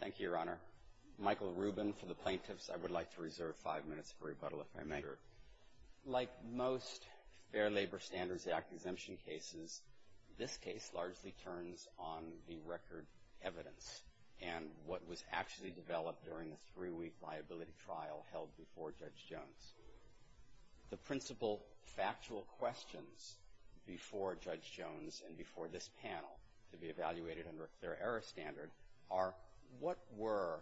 Thank you, Your Honor. Michael Rubin for the Plaintiffs. I would like to reserve five minutes for rebuttal if I may. Like most Fair Labor Standards Act exemption cases, this case largely turns on the record evidence and what was actually developed during the three-week liability trial held before Judge Jones. The principal factual questions before Judge Jones and before this panel to be evaluated under a clear error standard are, what were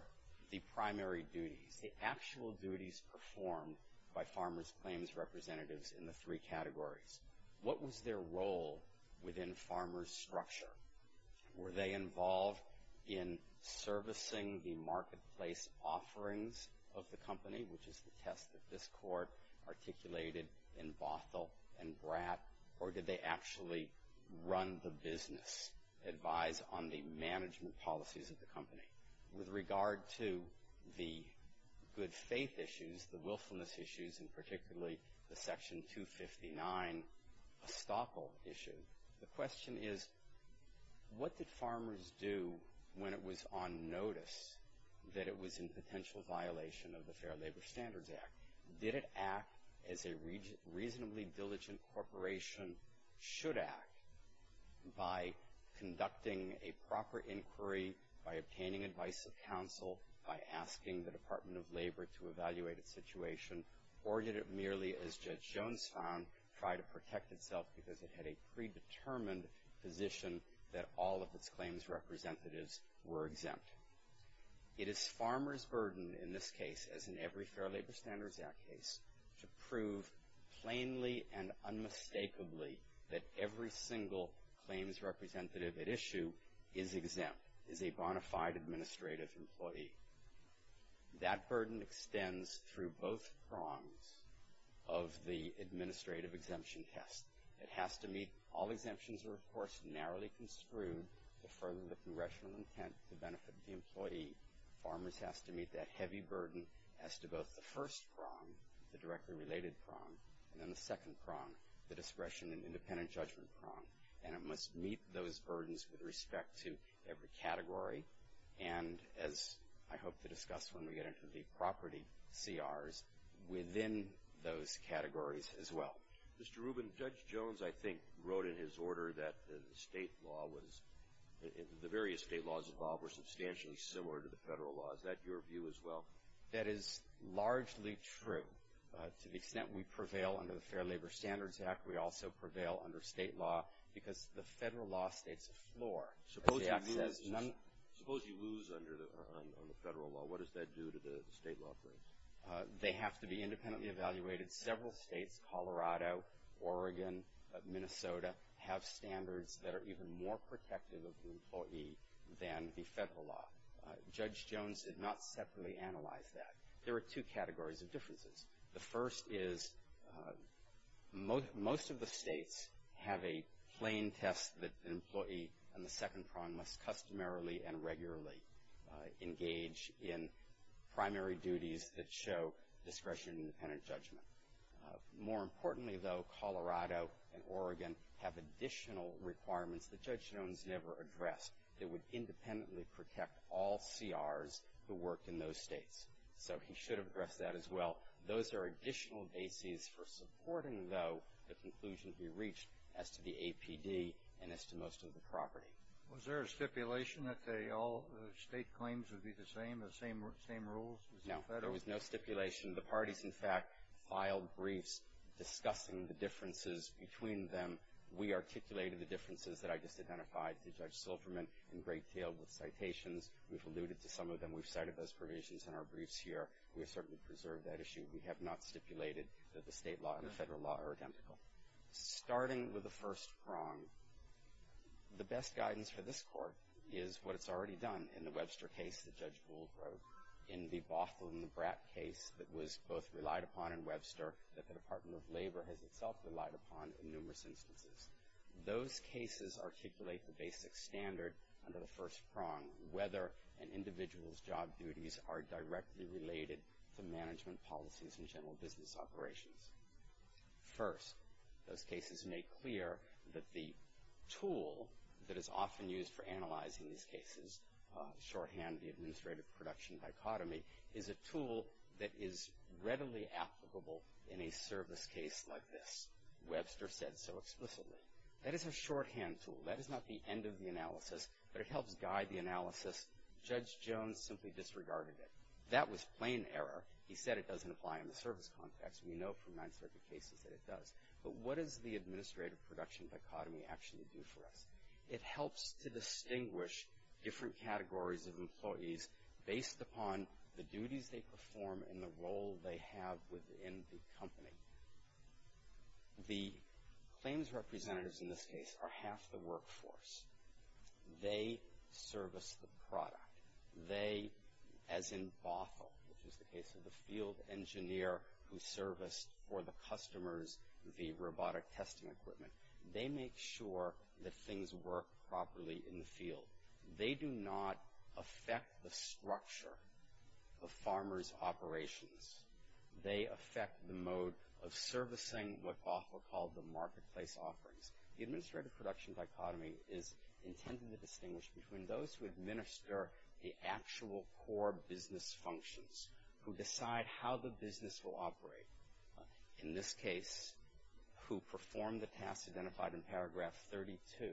the primary duties, the actual duties performed by Farmers Claims Representatives in the three categories? What was their role within Farmers structure? Were they involved in servicing the marketplace offerings of the company, which is the test that this Court articulated in Bothell and did they actually run the business, advise on the management policies of the company? With regard to the good faith issues, the willfulness issues, and particularly the Section 259 estoppel issue, the question is, what did Farmers do when it was on notice that it was in potential violation of the Fair Labor Standards Act? Did it act as a reasonably diligent corporation should act by conducting a proper inquiry, by obtaining advice of counsel, by asking the Department of Labor to evaluate its situation, or did it merely, as Judge Jones found, try to protect itself because it had a predetermined position that all of its claims representatives were exempt? It is Farmers' burden in this case, as in every Fair Labor Standards Act case, to prove plainly and unmistakably that every single claims representative at issue is exempt, is a bona fide administrative employee. That burden extends through both prongs of the administrative exemption test. It has to meet all exemptions that are, of course, narrowly construed to further the congressional intent to benefit the employee. Farmers has to meet that heavy burden as to both the first prong, the directly related prong, and then the second prong, the discretion and independent judgment prong. And it must meet those burdens with respect to every category and, as I hope to discuss when we get into the property CRs, within those categories as well. Mr. Rubin, Judge Jones, I think, wrote in his order that the state law was, the various state laws involved were substantially similar to the federal law. Is that your view as well? That is largely true. To the extent we prevail under the Fair Labor Standards Act, we also prevail under state law because the federal law states a floor. Suppose you lose under the federal law. What does that do to the state law claims? They have to be independently evaluated. Several states, Colorado, Oregon, Minnesota, have standards that are even more protective of the employee than the federal law. Judge Jones did not separately analyze that. There are two categories of differences. The first is most of the states have a plain test that an employee on the second prong must customarily and regularly engage in primary duties that show discretion and independent judgment. More importantly, though, Colorado and Oregon have additional requirements that Judge Jones never addressed that would independently protect all CRs who worked in those states. So he should have addressed that as well. Those are additional bases for supporting, though, the conclusion he reached as to the APD and as to most of the property. Was there a stipulation that all state claims would be the same, the same rules as the federal? There was no stipulation. The parties, in fact, filed briefs discussing the differences between them. We articulated the differences that I just identified to Judge Silverman in great detail with citations. We've alluded to some of them. We've cited those provisions in our briefs here. We have certainly preserved that issue. We have not stipulated that the state law and the federal law are identical. Starting with the first prong, the best guidance for this Court is what it's already done in the Webster case that Judge Bull wrote, in the Bothell and the Bratt case that was both relied upon in Webster that the Department of Labor has itself relied upon in numerous instances. Those cases articulate the basic standard under the first prong, whether an individual's job duties are directly related to management policies and general business operations. First, those cases make clear that the tool that is often used for analyzing these cases shorthand, the administrative production dichotomy, is a tool that is readily applicable in a service case like this. Webster said so explicitly. That is a shorthand tool. That is not the end of the analysis, but it helps guide the analysis. Judge Jones simply disregarded it. That was plain error. He said it doesn't apply in the service context. We know from Ninth Circuit cases that it does. But what does the administrative production dichotomy actually do for us? It helps to distinguish different categories of employees based upon the duties they perform and the role they have within the company. The claims representatives in this case are half the workforce. They service the product. They, as in Bothell, which is the case of the field engineer who serviced for the customers the robotic testing equipment, they make sure that things work properly in the field. They do not affect the structure of farmers' operations. They affect the mode of servicing what Bothell called the marketplace offerings. The administrative production dichotomy is intended to distinguish between those who administer the actual core business functions, who decide how the business will operate. In this case, who performed the tasks identified in paragraph 32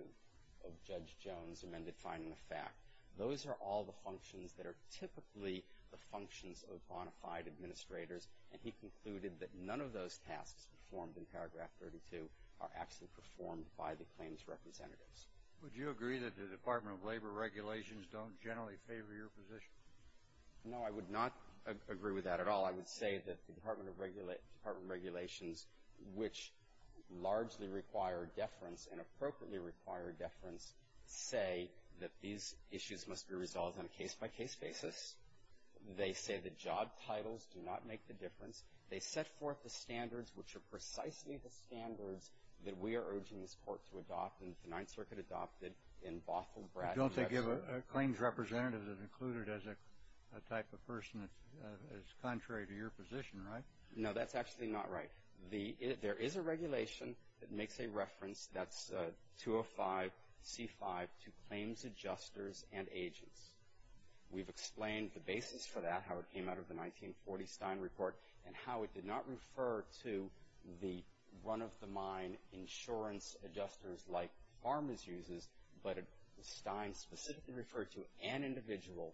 of Judge Jones' amended finding of fact. Those are all the functions that are typically the functions of bonafide administrators, and he concluded that none of those tasks performed in paragraph 32 are actually performed by the claims representatives. Would you agree that the Department of Labor regulations don't generally favor your position? No, I would not agree with that at all. I would say that the Department of Regulations, which largely require deference and appropriately require deference, say that these issues must be resolved on a case-by-case basis. They say that job titles do not make the difference. They set forth the standards, which are precisely the standards that we are urging this Court to adopt and the Ninth Circuit adopted in Bothell, Bradford, and Redford. You don't think claims representatives are included as a type of person that is contrary to your position, right? No, that's actually not right. There is a regulation that makes a reference, that's 205C5, to claims adjusters and agents. We've explained the basis for that, how it came out of the 1940 Stein Report, and how it did not refer to the run-of-the-mine insurance adjusters like farmers uses, but Stein specifically referred to an individual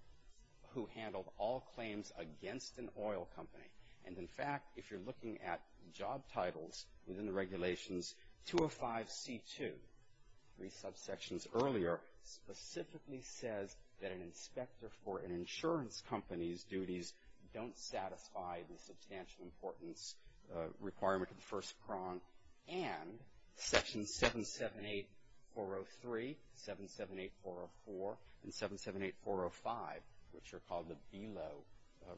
who handled all claims against an oil company. And, in fact, if you're looking at job titles within the regulations, 205C2, three subsections earlier, specifically says that an inspector for an insurance company's duties don't satisfy the substantial importance requirement of the 205C2. And 778-403, 778-404, and 778-405, which are called the BELO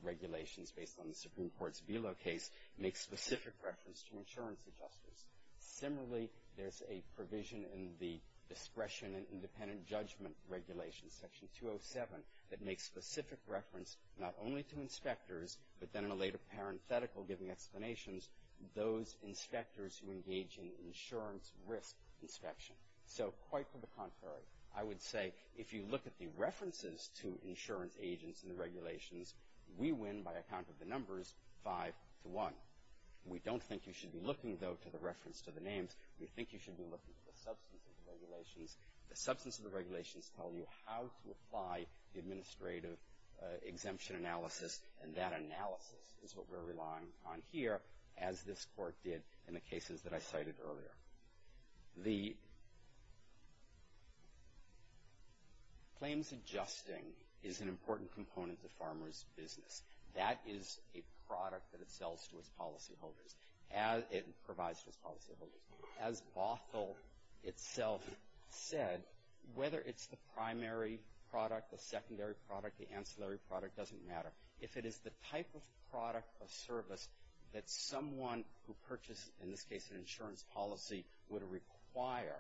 regulations based on the Supreme Court's BELO case, make specific reference to insurance adjusters. Similarly, there's a provision in the Discretion and Independent Judgment Regulations, Section 207, that makes specific reference not only to inspectors, but then in a later parenthetical giving explanations, those inspectors who engage in insurance risk inspection. So, quite to the contrary, I would say if you look at the references to insurance agents in the regulations, we win by a count of the numbers, five to one. We don't think you should be looking, though, to the reference to the names. We think you should be looking at the substance of the regulations. The substance of the regulations tell you how to apply the administrative exemption analysis, and that analysis is what we're relying on here, as this Court did in the cases that I cited earlier. The claims adjusting is an important component to farmers' business. That is a product that it sells to its policyholders. It provides to its policyholders. As Bothell itself said, whether it's the primary product, the secondary product, the ancillary product doesn't matter. If it is the type of product or service that someone who purchases, in this case an insurance policy, would require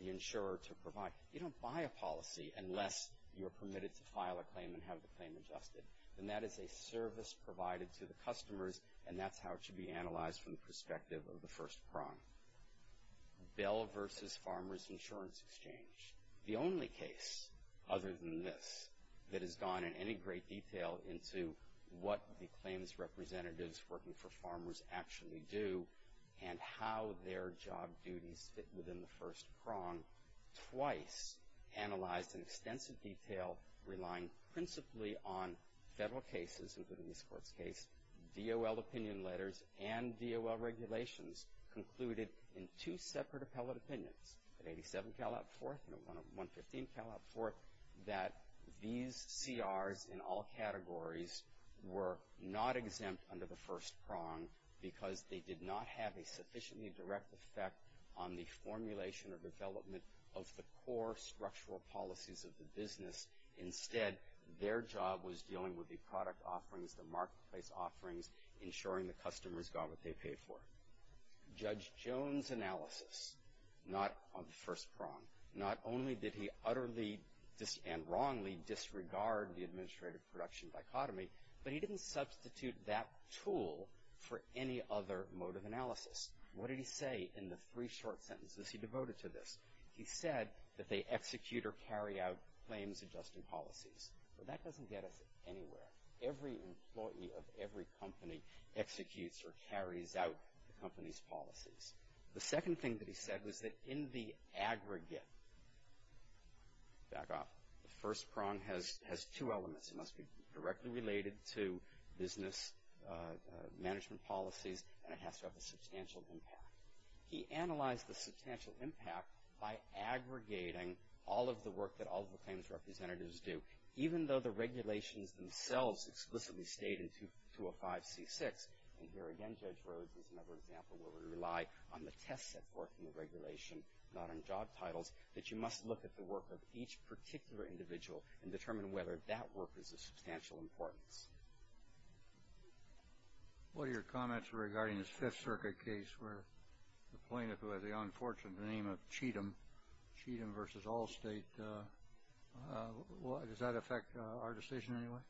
the insurer to provide, you don't buy a policy unless you're permitted to file a claim and have the claim adjusted. And that is a service provided to the customers, and that's how it should be analyzed from the perspective of the first prong. Bell v. Farmers Insurance Exchange, the only case other than this that has gone in any great detail into what the claims representatives working for farmers actually do and how their job duties fit within the first prong, twice analyzed in extensive detail, relying principally on federal cases, including this Court's case, DOL opinion letters, and DOL regulations, concluded in two separate appellate opinions, at 87 Cal. 4th and 115 Cal. 4th, that these CRs in all categories were not exempt under the first prong because they did not have a sufficiently direct effect on the formulation or development of the core structural policies of the business. Instead, their job was dealing with the product offerings, the marketplace offerings, ensuring the customers got what they paid for. Judge Jones' analysis, not on the first prong, not only did he utterly and wrongly disregard the administrative production dichotomy, but he didn't substitute that tool for any other mode of analysis. What did he say in the three short sentences he devoted to this? He said that they execute or carry out claims adjusting policies. But that doesn't get us anywhere. Every employee of every company executes or carries out the company's policies. The second thing that he said was that in the aggregate, back off, the first prong has two elements. It must be directly related to business management policies, and it has to have a substantial impact. He analyzed the substantial impact by aggregating all of the work that all of the claims representatives do. Even though the regulations themselves explicitly state in 205C6, and here again Judge Rhodes is another example where we rely on the tests that work in the regulation, not on job titles, that you must look at the work of each particular individual and determine whether that work is of substantial importance. What are your comments regarding this Fifth Circuit case where the plaintiff, who has the unfortunate name of Cheatham, Cheatham v. Allstate, does that affect our decision anyway?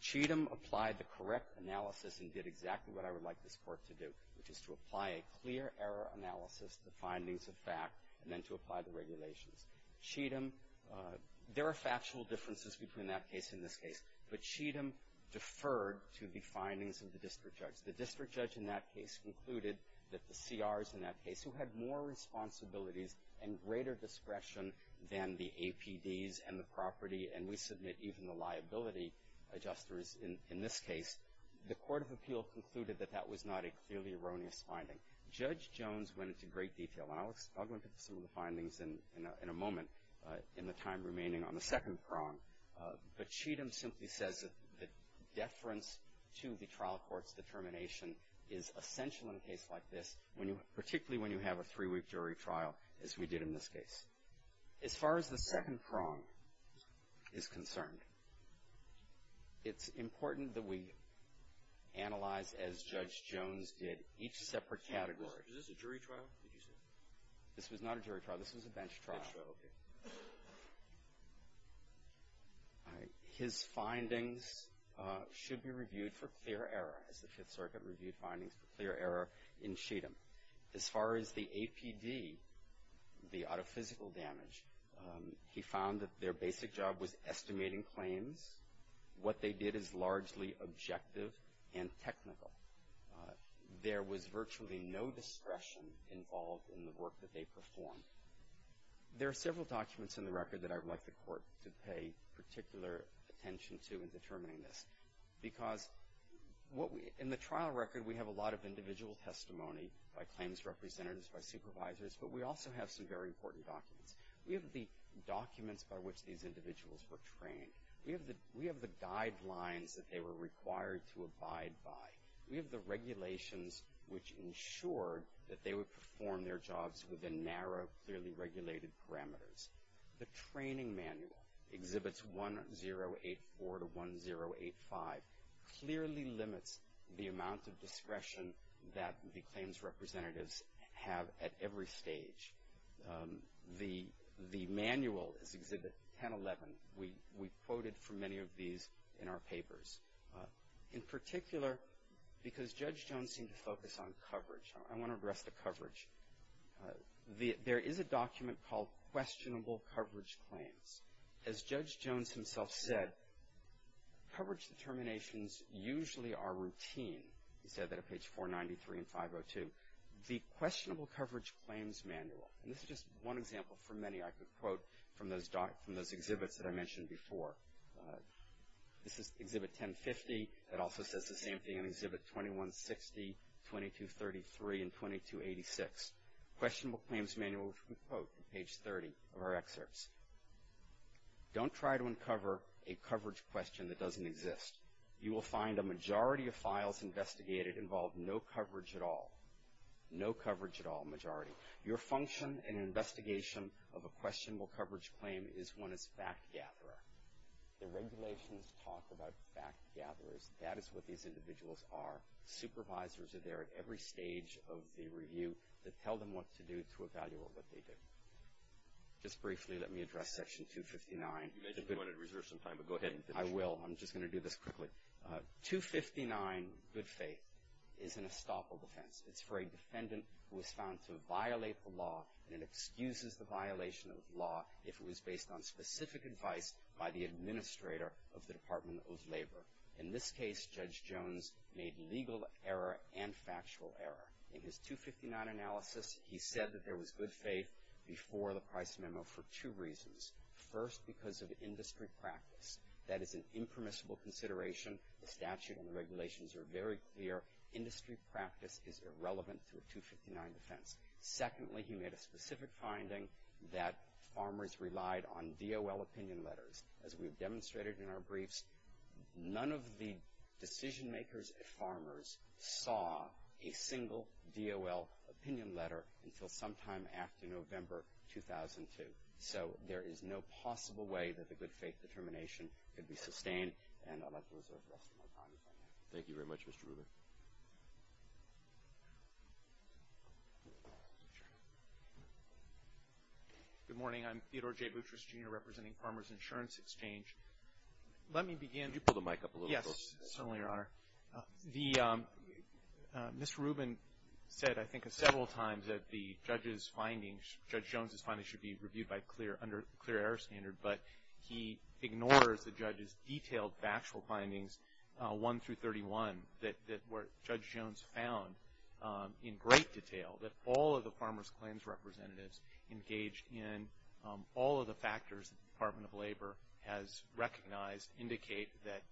Cheatham applied the correct analysis and did exactly what I would like this Court to do, which is to apply a clear error analysis, the findings of fact, and then to apply the regulations. Cheatham, there are factual differences between that case and this case, but Cheatham deferred to the findings of the district judge. The district judge in that case concluded that the CRs in that case, who had more responsibilities and greater discretion than the APDs and the property, and we submit even the liability adjusters in this case, the Court of Appeal concluded that that was not a clearly erroneous finding. Judge Jones went into great detail, and I'll go into some of the findings in a moment in the time remaining on the second prong, but Cheatham simply says that deference to the information is essential in a case like this, particularly when you have a three-week jury trial, as we did in this case. As far as the second prong is concerned, it's important that we analyze, as Judge Jones did, each separate category. Is this a jury trial, did you say? This was not a jury trial. This was a bench trial. Bench trial, okay. All right. His findings should be reviewed for clear error, as the Fifth Circuit reviewed findings for clear error in Cheatham. As far as the APD, the out-of-physical damage, he found that their basic job was estimating claims. What they did is largely objective and technical. There was virtually no discretion involved in the work that they performed. There are several documents in the record that I would like the Court to pay particular attention to in determining this, because in the trial record, we have a lot of individual testimony by claims representatives, by supervisors, but we also have some very important documents. We have the documents by which these individuals were trained. We have the guidelines that they were required to abide by. We have the regulations which ensured that they would perform their jobs within narrow, clearly regulated parameters. The training manual, Exhibits 1084 to 1085, clearly limits the amount of discretion that the claims representatives have at every stage. The manual, Exhibit 1011, we quoted from many of these in our papers. In particular, because Judge Jones seemed to focus on coverage, I want to address the coverage. There is a document called Questionable Coverage Claims. As Judge Jones himself said, coverage determinations usually are routine. He said that at page 493 and 502. The Questionable Coverage Claims Manual, and this is just one example for many I could quote from those exhibits that I mentioned before. This is Exhibit 1050. It also says the same thing on Exhibit 2160, 2233, and 2286. Questionable Claims Manual, which we quote from page 30 of our excerpts. Don't try to uncover a coverage question that doesn't exist. You will find a majority of files investigated involve no coverage at all. No coverage at all, majority. Your function in an investigation of a questionable coverage claim is one as fact gatherer. The regulations talk about fact gatherers. That is what these individuals are. Supervisors are there at every stage of the review that tell them what to do to evaluate what they do. Just briefly, let me address Section 259. You mentioned you wanted to reserve some time, but go ahead and finish. I will. I'm just going to do this quickly. 259, good faith, is an estoppel defense. It's for a defendant who was found to violate the law, and it excuses the violation of the law if it was based on specific advice by the administrator of the Department of Labor. In this case, Judge Jones made legal error and factual error. In his 259 analysis, he said that there was good faith before the Price Memo for two reasons. First, because of industry practice. That is an impermissible consideration. The statute and the regulations are very clear. Industry practice is irrelevant to a 259 defense. Secondly, he made a specific finding that farmers relied on DOL opinion letters. As we've demonstrated in our briefs, none of the decision makers at Farmers saw a single DOL opinion letter until sometime after November 2002. So there is no possible way that the good faith determination could be sustained, and I'd like to reserve the rest of my time if I may. Thank you very much, Mr. Rubin. Good morning, I'm Theodore J. Butrus, Jr., representing Farmers Insurance Exchange. Let me begin- Could you pull the mic up a little? Yes, certainly, Your Honor. The, Mr. Rubin said, I think, several times that the judge's findings, Judge Jones's findings should be reviewed by clear, under clear error standard, but he ignores the judge's detailed factual findings, 1 through 31, that where Judge Jones found in great detail that all of the farmers claims representatives engaged in all of the factors that the Department of Labor has recognized indicate that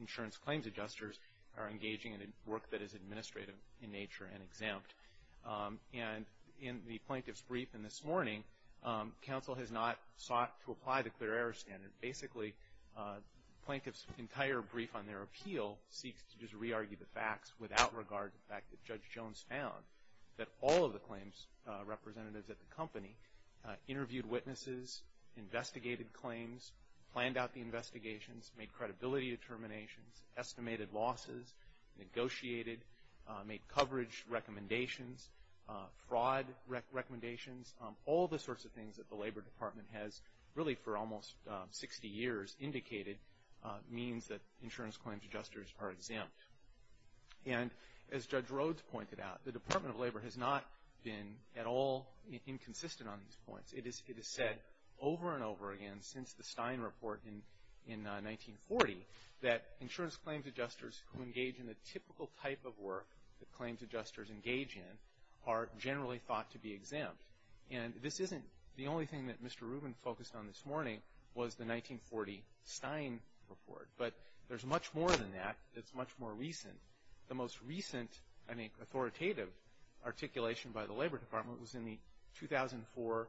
insurance claims adjusters are engaging in work that is administrative in nature and exempt. And in the plaintiff's brief in this morning, counsel has not sought to apply the clear error standard. Basically, plaintiff's entire brief on their appeal seeks to just re-argue the facts without regard to the fact that Judge Jones found that all of the claims representatives at the company interviewed witnesses, investigated claims, planned out the investigations, made credibility determinations, estimated losses, negotiated, made coverage recommendations, fraud recommendations. All the sorts of things that the Labor Department has really for almost 60 years indicated means that insurance claims adjusters are exempt. And as Judge Rhodes pointed out, the Department of Labor has not been at all inconsistent on these points. It has said over and over again since the Stein report in 1940 that insurance claims adjusters who engage in the typical type of work that claims adjusters engage in are generally thought to be exempt. And this isn't the only thing that Mr. Rubin focused on this morning was the 1940 Stein report. But there's much more than that. It's much more recent. The most recent, I think, authoritative articulation by the Labor Department was in the 2004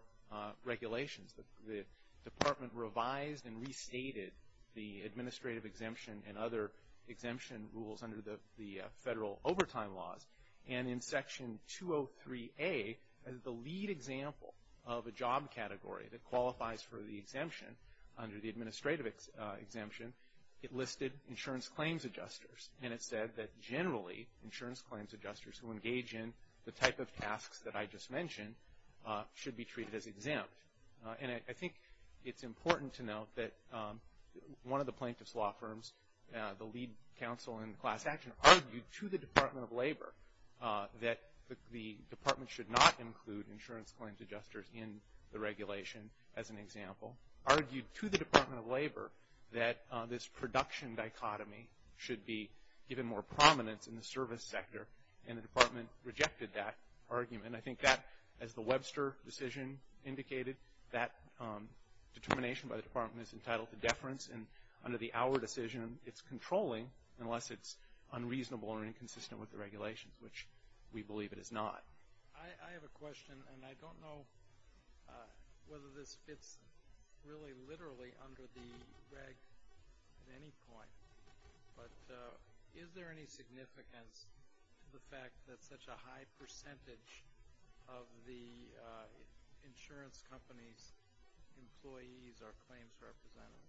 regulations. The department revised and restated the administrative exemption and other exemption rules under the federal overtime laws. And in section 203A, the lead example of a job category that qualifies for the exemption under the administrative exemption, it listed insurance claims adjusters, and it said that generally insurance claims adjusters who engage in the type of tasks that I just mentioned should be treated as exempt. And I think it's important to note that one of the plaintiff's law firms, the lead counsel in class action, argued to the Department of Labor that the department should not include insurance claims adjusters in the regulation as an example, argued to the Department of Labor that this production dichotomy should be given more prominence in the service sector. And the department rejected that argument. I think that, as the Webster decision indicated, that determination by the department is entitled to deference. And under the Auer decision, it's controlling unless it's unreasonable or inconsistent with the regulations, which we believe it is not. I have a question, and I don't know whether this fits really literally under the reg at any point. But is there any significance to the fact that such a high percentage of the insurance company's employees are claims representatives?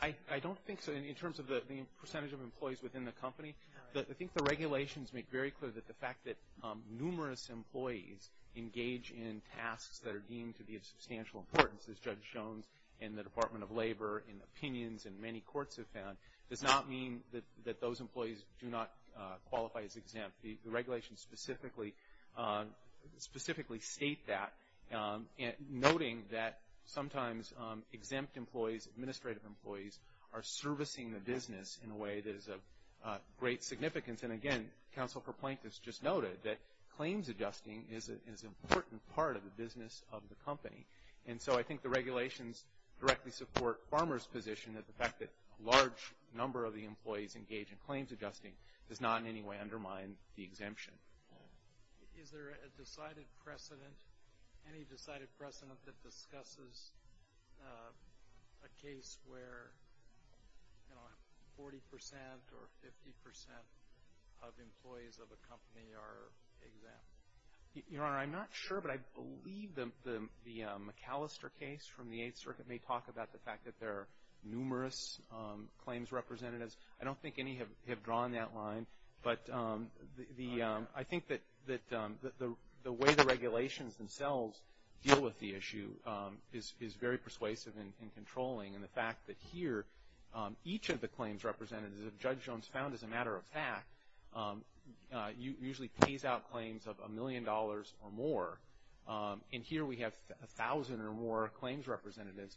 I don't think so in terms of the percentage of employees within the company. I think the regulations make very clear that the fact that numerous employees engage in tasks that are deemed to be of substantial importance, as Judge Jones and the Department of Labor in opinions in many courts have found, does not mean that those employees do not qualify as exempt. The regulations specifically state that, noting that sometimes exempt employees, administrative employees, are servicing the business in a way that is of great significance. And again, Counsel for Plaintiffs just noted that claims adjusting is an important part of the business of the company. And so I think the regulations directly support Farmer's position, that the fact that a large number of the employees engage in claims adjusting does not in any way undermine the exemption. Is there a decided precedent, any decided precedent, that discusses a case where, you know, 40% or 50% of employees of a company are exempt? Your Honor, I'm not sure, but I believe the McAllister case from the Eighth Circuit may talk about the fact that there are numerous claims representatives. I don't think any have drawn that line. But I think that the way the regulations themselves deal with the issue is very persuasive and controlling. And the fact that here, each of the claims representatives, as Judge Jones found as a matter of fact, usually pays out claims of a million dollars or more. And here we have 1,000 or more claims representatives.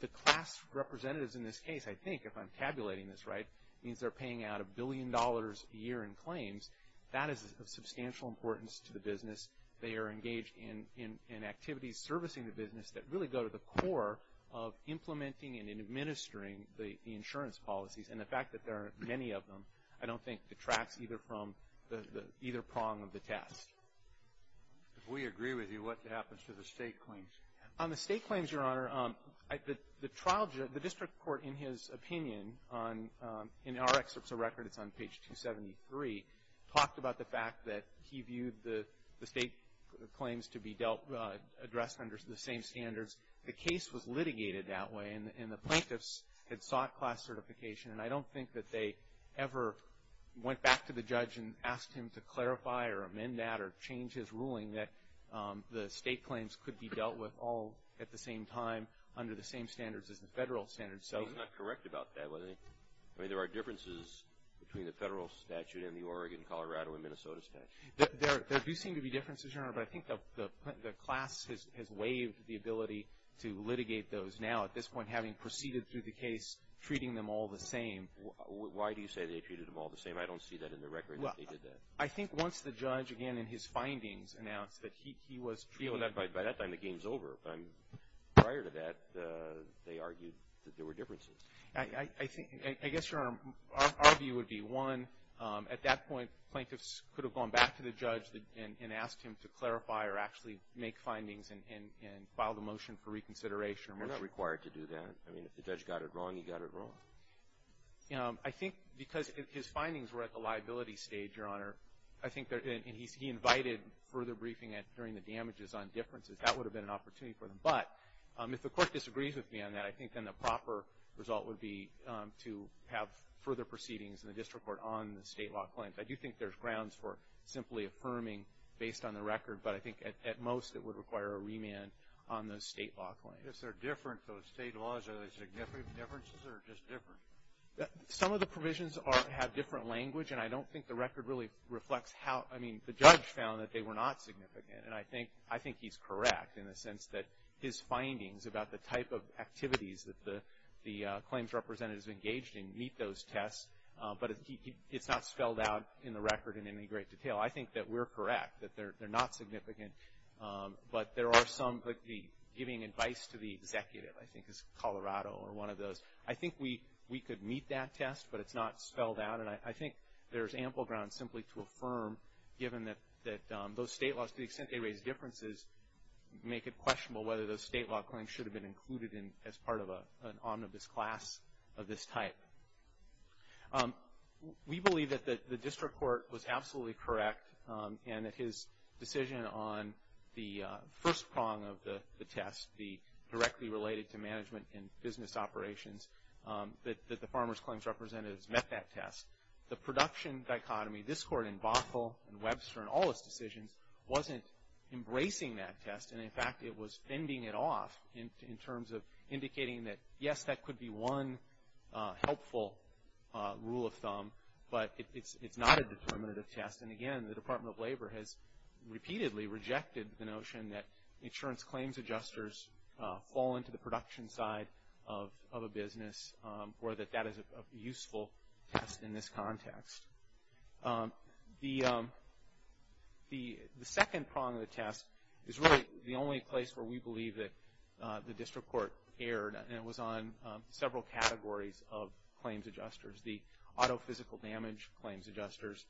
The class representatives in this case, I think, if I'm tabulating this right, means they're paying out a billion dollars a year in claims. That is of substantial importance to the business. They are engaged in activities servicing the business that really go to the core of implementing and administering the insurance policies. And the fact that there are many of them, I don't think detracts either from either prong of the test. If we agree with you, what happens to the state claims? On the state claims, Your Honor, the district court, in his opinion, in our excerpts of record, it's on page 273, talked about the fact that he viewed the state claims to be addressed under the same standards. The case was litigated that way, and the plaintiffs had sought class certification. And I don't think that they ever went back to the judge and amend that or change his ruling that the state claims could be dealt with all at the same time under the same standards as the federal standards. So- He's not correct about that, was he? I mean, there are differences between the federal statute and the Oregon, Colorado, and Minnesota statute. There do seem to be differences, Your Honor, but I think the class has waived the ability to litigate those. Now, at this point, having proceeded through the case, treating them all the same. Why do you say they treated them all the same? I don't see that in the record that they did that. I think once the judge, again, in his findings, announced that he was treated- By that time, the game's over. Prior to that, they argued that there were differences. I think — I guess, Your Honor, our view would be, one, at that point, plaintiffs could have gone back to the judge and asked him to clarify or actually make findings and file the motion for reconsideration. You're not required to do that. I mean, if the judge got it wrong, he got it wrong. I think because his findings were at the liability stage, Your Honor, I think that he invited further briefing during the damages on differences. That would have been an opportunity for them. But if the Court disagrees with me on that, I think then the proper result would be to have further proceedings in the district court on the state law claims. I do think there's grounds for simply affirming based on the record, but I think at most, it would require a remand on the state law claims. If they're different, those state laws, are there significant differences or just different? Some of the provisions are — have different language, and I don't think the record really reflects how — I mean, the judge found that they were not significant, and I think — I think he's correct in the sense that his findings about the type of activities that the claims representatives engaged in meet those tests, but it's not spelled out in the record in any great detail. I think that we're correct, that they're not significant, but there are some — like the giving advice to the executive, I think, is Colorado or one of those. I think we could meet that test, but it's not spelled out, and I think there's ample grounds simply to affirm, given that those state laws, to the extent they raise differences, make it questionable whether those state law claims should have been included in — as part of an omnibus class of this type. We believe that the district court was absolutely correct, and that his decision on the first prong of the test, the directly related to management and business operations, that the farmers' claims representatives met that test. The production dichotomy, this court in Bothell and Webster and all those decisions, wasn't embracing that test, and in fact, it was fending it off in terms of indicating that, yes, that could be one helpful rule of thumb, but it's not a determinative test. And again, the Department of Labor has repeatedly rejected the notion that that is a useful test in this context. The second prong of the test is really the only place where we believe that the district court erred, and it was on several categories of claims adjusters, the auto-physical damage claims adjusters.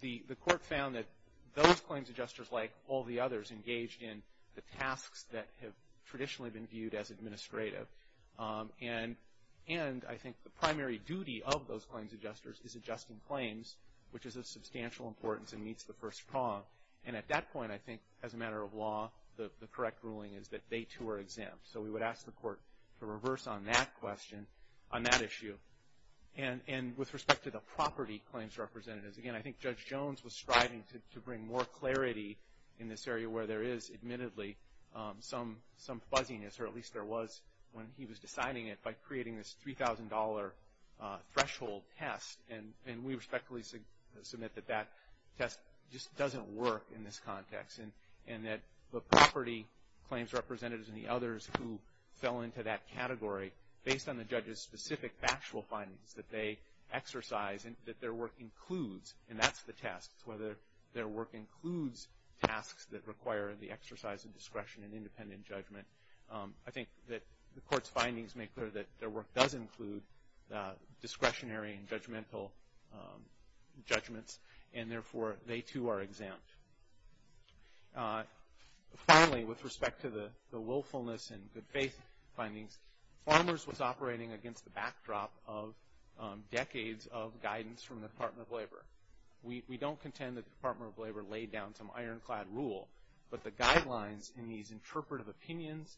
The court found that those claims adjusters, like all the others, engaged in the tasks that have traditionally been viewed as administrative, and I think the primary duty of those claims adjusters is adjusting claims, which is of substantial importance and meets the first prong. And at that point, I think, as a matter of law, the correct ruling is that they, too, are exempt. So we would ask the court to reverse on that question, on that issue. And with respect to the property claims representatives, again, where there is, admittedly, some fuzziness, or at least there was when he was deciding it, by creating this $3,000 threshold test, and we respectfully submit that that test just doesn't work in this context, and that the property claims representatives and the others who fell into that category, based on the judge's specific factual findings that they exercise and that their work includes, and that's the test, whether their work includes tasks that require the exercise of discretion and independent judgment. I think that the court's findings make clear that their work does include discretionary and judgmental judgments, and therefore, they, too, are exempt. Finally, with respect to the willfulness and good faith findings, farmers was operating against the backdrop of decades of guidance from the Department of Labor. We don't contend that the Department of Labor laid down some ironclad rule, but the guidelines in these interpretive opinions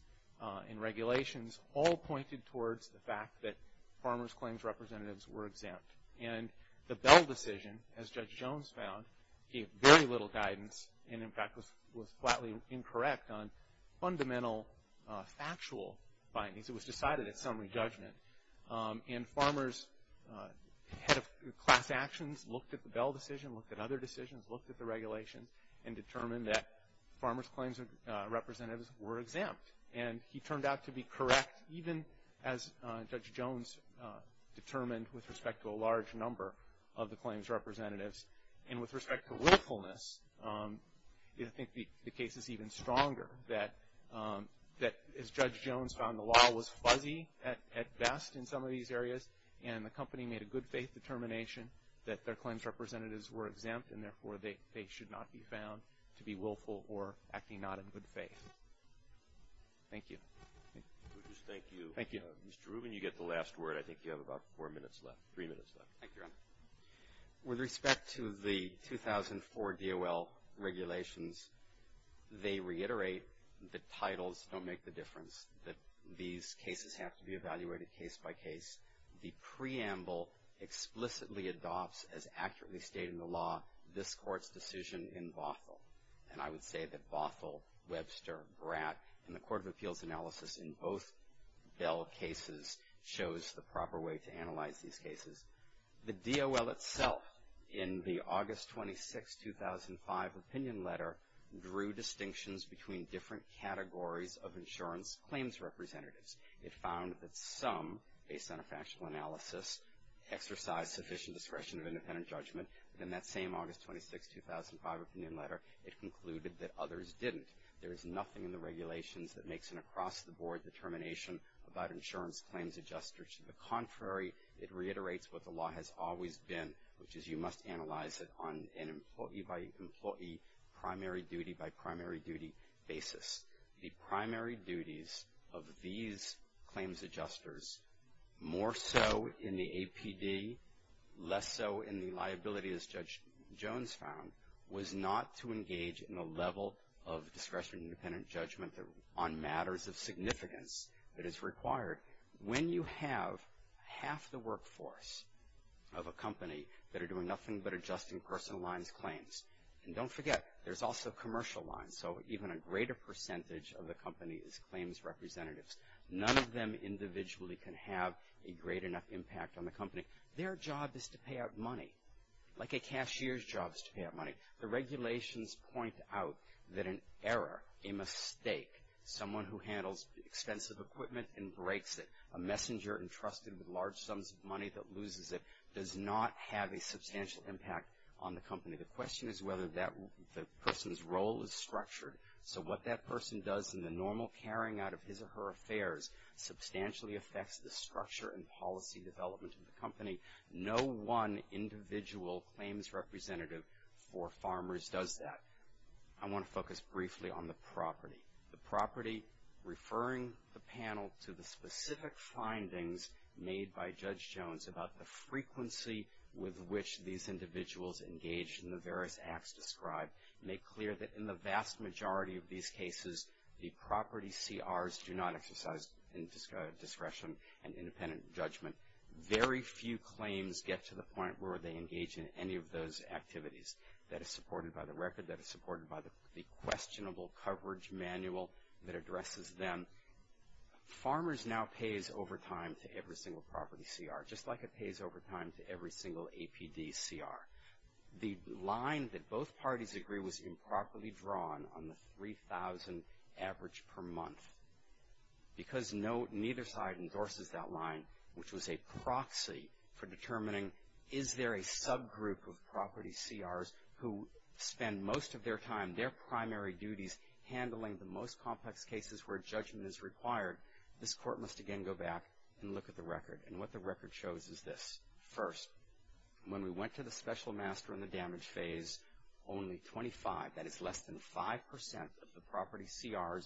and regulations all pointed towards the fact that farmers' claims representatives were exempt. And the Bell decision, as Judge Jones found, gave very little guidance and, in fact, was flatly incorrect on fundamental factual findings. It was decided at summary judgment. And farmers' head of class actions looked at the Bell decision, looked at other decisions, looked at the regulations, and determined that farmers' claims representatives were exempt. And he turned out to be correct, even as Judge Jones determined with respect to a large number of the claims representatives. And with respect to willfulness, I think the case is even stronger, that as Judge Jones found, the law was fuzzy at best in some of these areas, and the company made a good faith determination that their claims representatives were exempt, and therefore, they should not be found to be willful or acting not in good faith. Thank you. Thank you. Thank you. Mr. Rubin, you get the last word. I think you have about four minutes left, three minutes left. Thank you, Your Honor. With respect to the 2004 DOL regulations, they reiterate the titles don't make the difference, that these cases have to be evaluated case by case. The preamble explicitly adopts, as accurately stated in the law, this Court's decision in Bothell. And I would say that Bothell, Webster, Bratt, and the Court of Appeals analysis in both Bell cases shows the proper way to analyze these cases. The DOL itself, in the August 26, 2005 opinion letter, drew distinctions between different categories of insurance claims representatives. It found that some, based on a factual analysis, exercise sufficient discretion of independent judgment, but in that same August 26, 2005 opinion letter, it concluded that others didn't. There is nothing in the regulations that makes an across-the-board determination about insurance claims adjusters. To the contrary, it reiterates what the law has always been, which is you must analyze it on an employee by employee, primary duty by primary duty basis. The primary duties of these claims adjusters, more so in the APD, less so in the liability, as Judge Jones found, was not to engage in a level of discretionary independent judgment on matters of significance that is required. When you have half the workforce of a company that are doing nothing but adjusting personal lines claims, and don't forget, there's also commercial lines, so even a greater percentage of the company is claims representatives. None of them individually can have a great enough impact on the company. Their job is to pay out money, like a cashier's job is to pay out money. The regulations point out that an error, a mistake, someone who handles expensive equipment and breaks it, a messenger entrusted with large sums of money that loses it does not have a substantial impact on the company. The question is whether that person's role is structured, so what that person does in the normal carrying out of his or her affairs substantially affects the structure and policy development of the company. No one individual claims representative for farmers does that. I want to focus briefly on the property. The property, referring the panel to the specific findings made by Judge Jones about the frequency with which these individuals engaged in the various acts described, make clear that in the vast majority of these cases, the property CRs do not exercise discretion and independent judgment. Very few claims get to the point where they engage in any of those activities. That is supported by the record. That is supported by the questionable coverage manual that addresses them. Farmers now pays overtime to every single property CR, just like it pays overtime to every single APD CR. The line that both parties agree was improperly drawn on the 3,000 average per month because neither side endorses that line, which was a proxy for determining is there a subgroup of property CRs who spend most of their time, their primary duties handling the most complex cases where judgment is required, this court must again go back and look at the record. And what the record shows is this. First, when we went to the special master in the damage phase, only 25, that is less than 5%, of the property CRs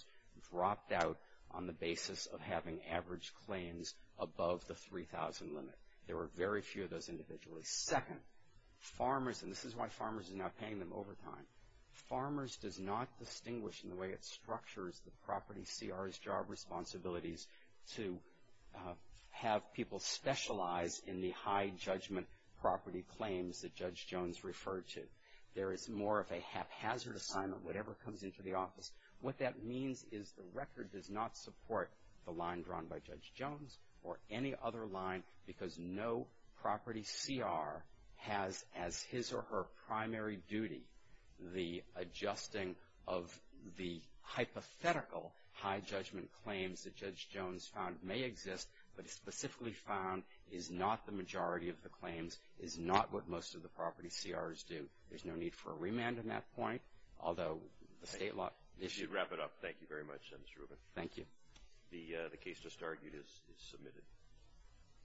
dropped out on the basis of having average claims above the 3,000 limit. There were very few of those individuals. Second, farmers, and this is why farmers are now paying them overtime, farmers does not distinguish in the way it structures the property CRs job responsibilities to have people specialize in the high judgment property claims that Judge Jones referred to. There is more of a haphazard assignment, whatever comes into the office. What that means is the record does not support the line drawn by Judge Jones or any other line because no property CR has as his or her primary duty the adjusting of the hypothetical high judgment claims that Judge Jones found may exist but specifically found is not the majority of the claims, is not what most of the property CRs do. There's no need for a remand in that point, although the state law issue. Wrap it up. Thank you very much, Judge Rubin. Thank you. The case just argued is submitted.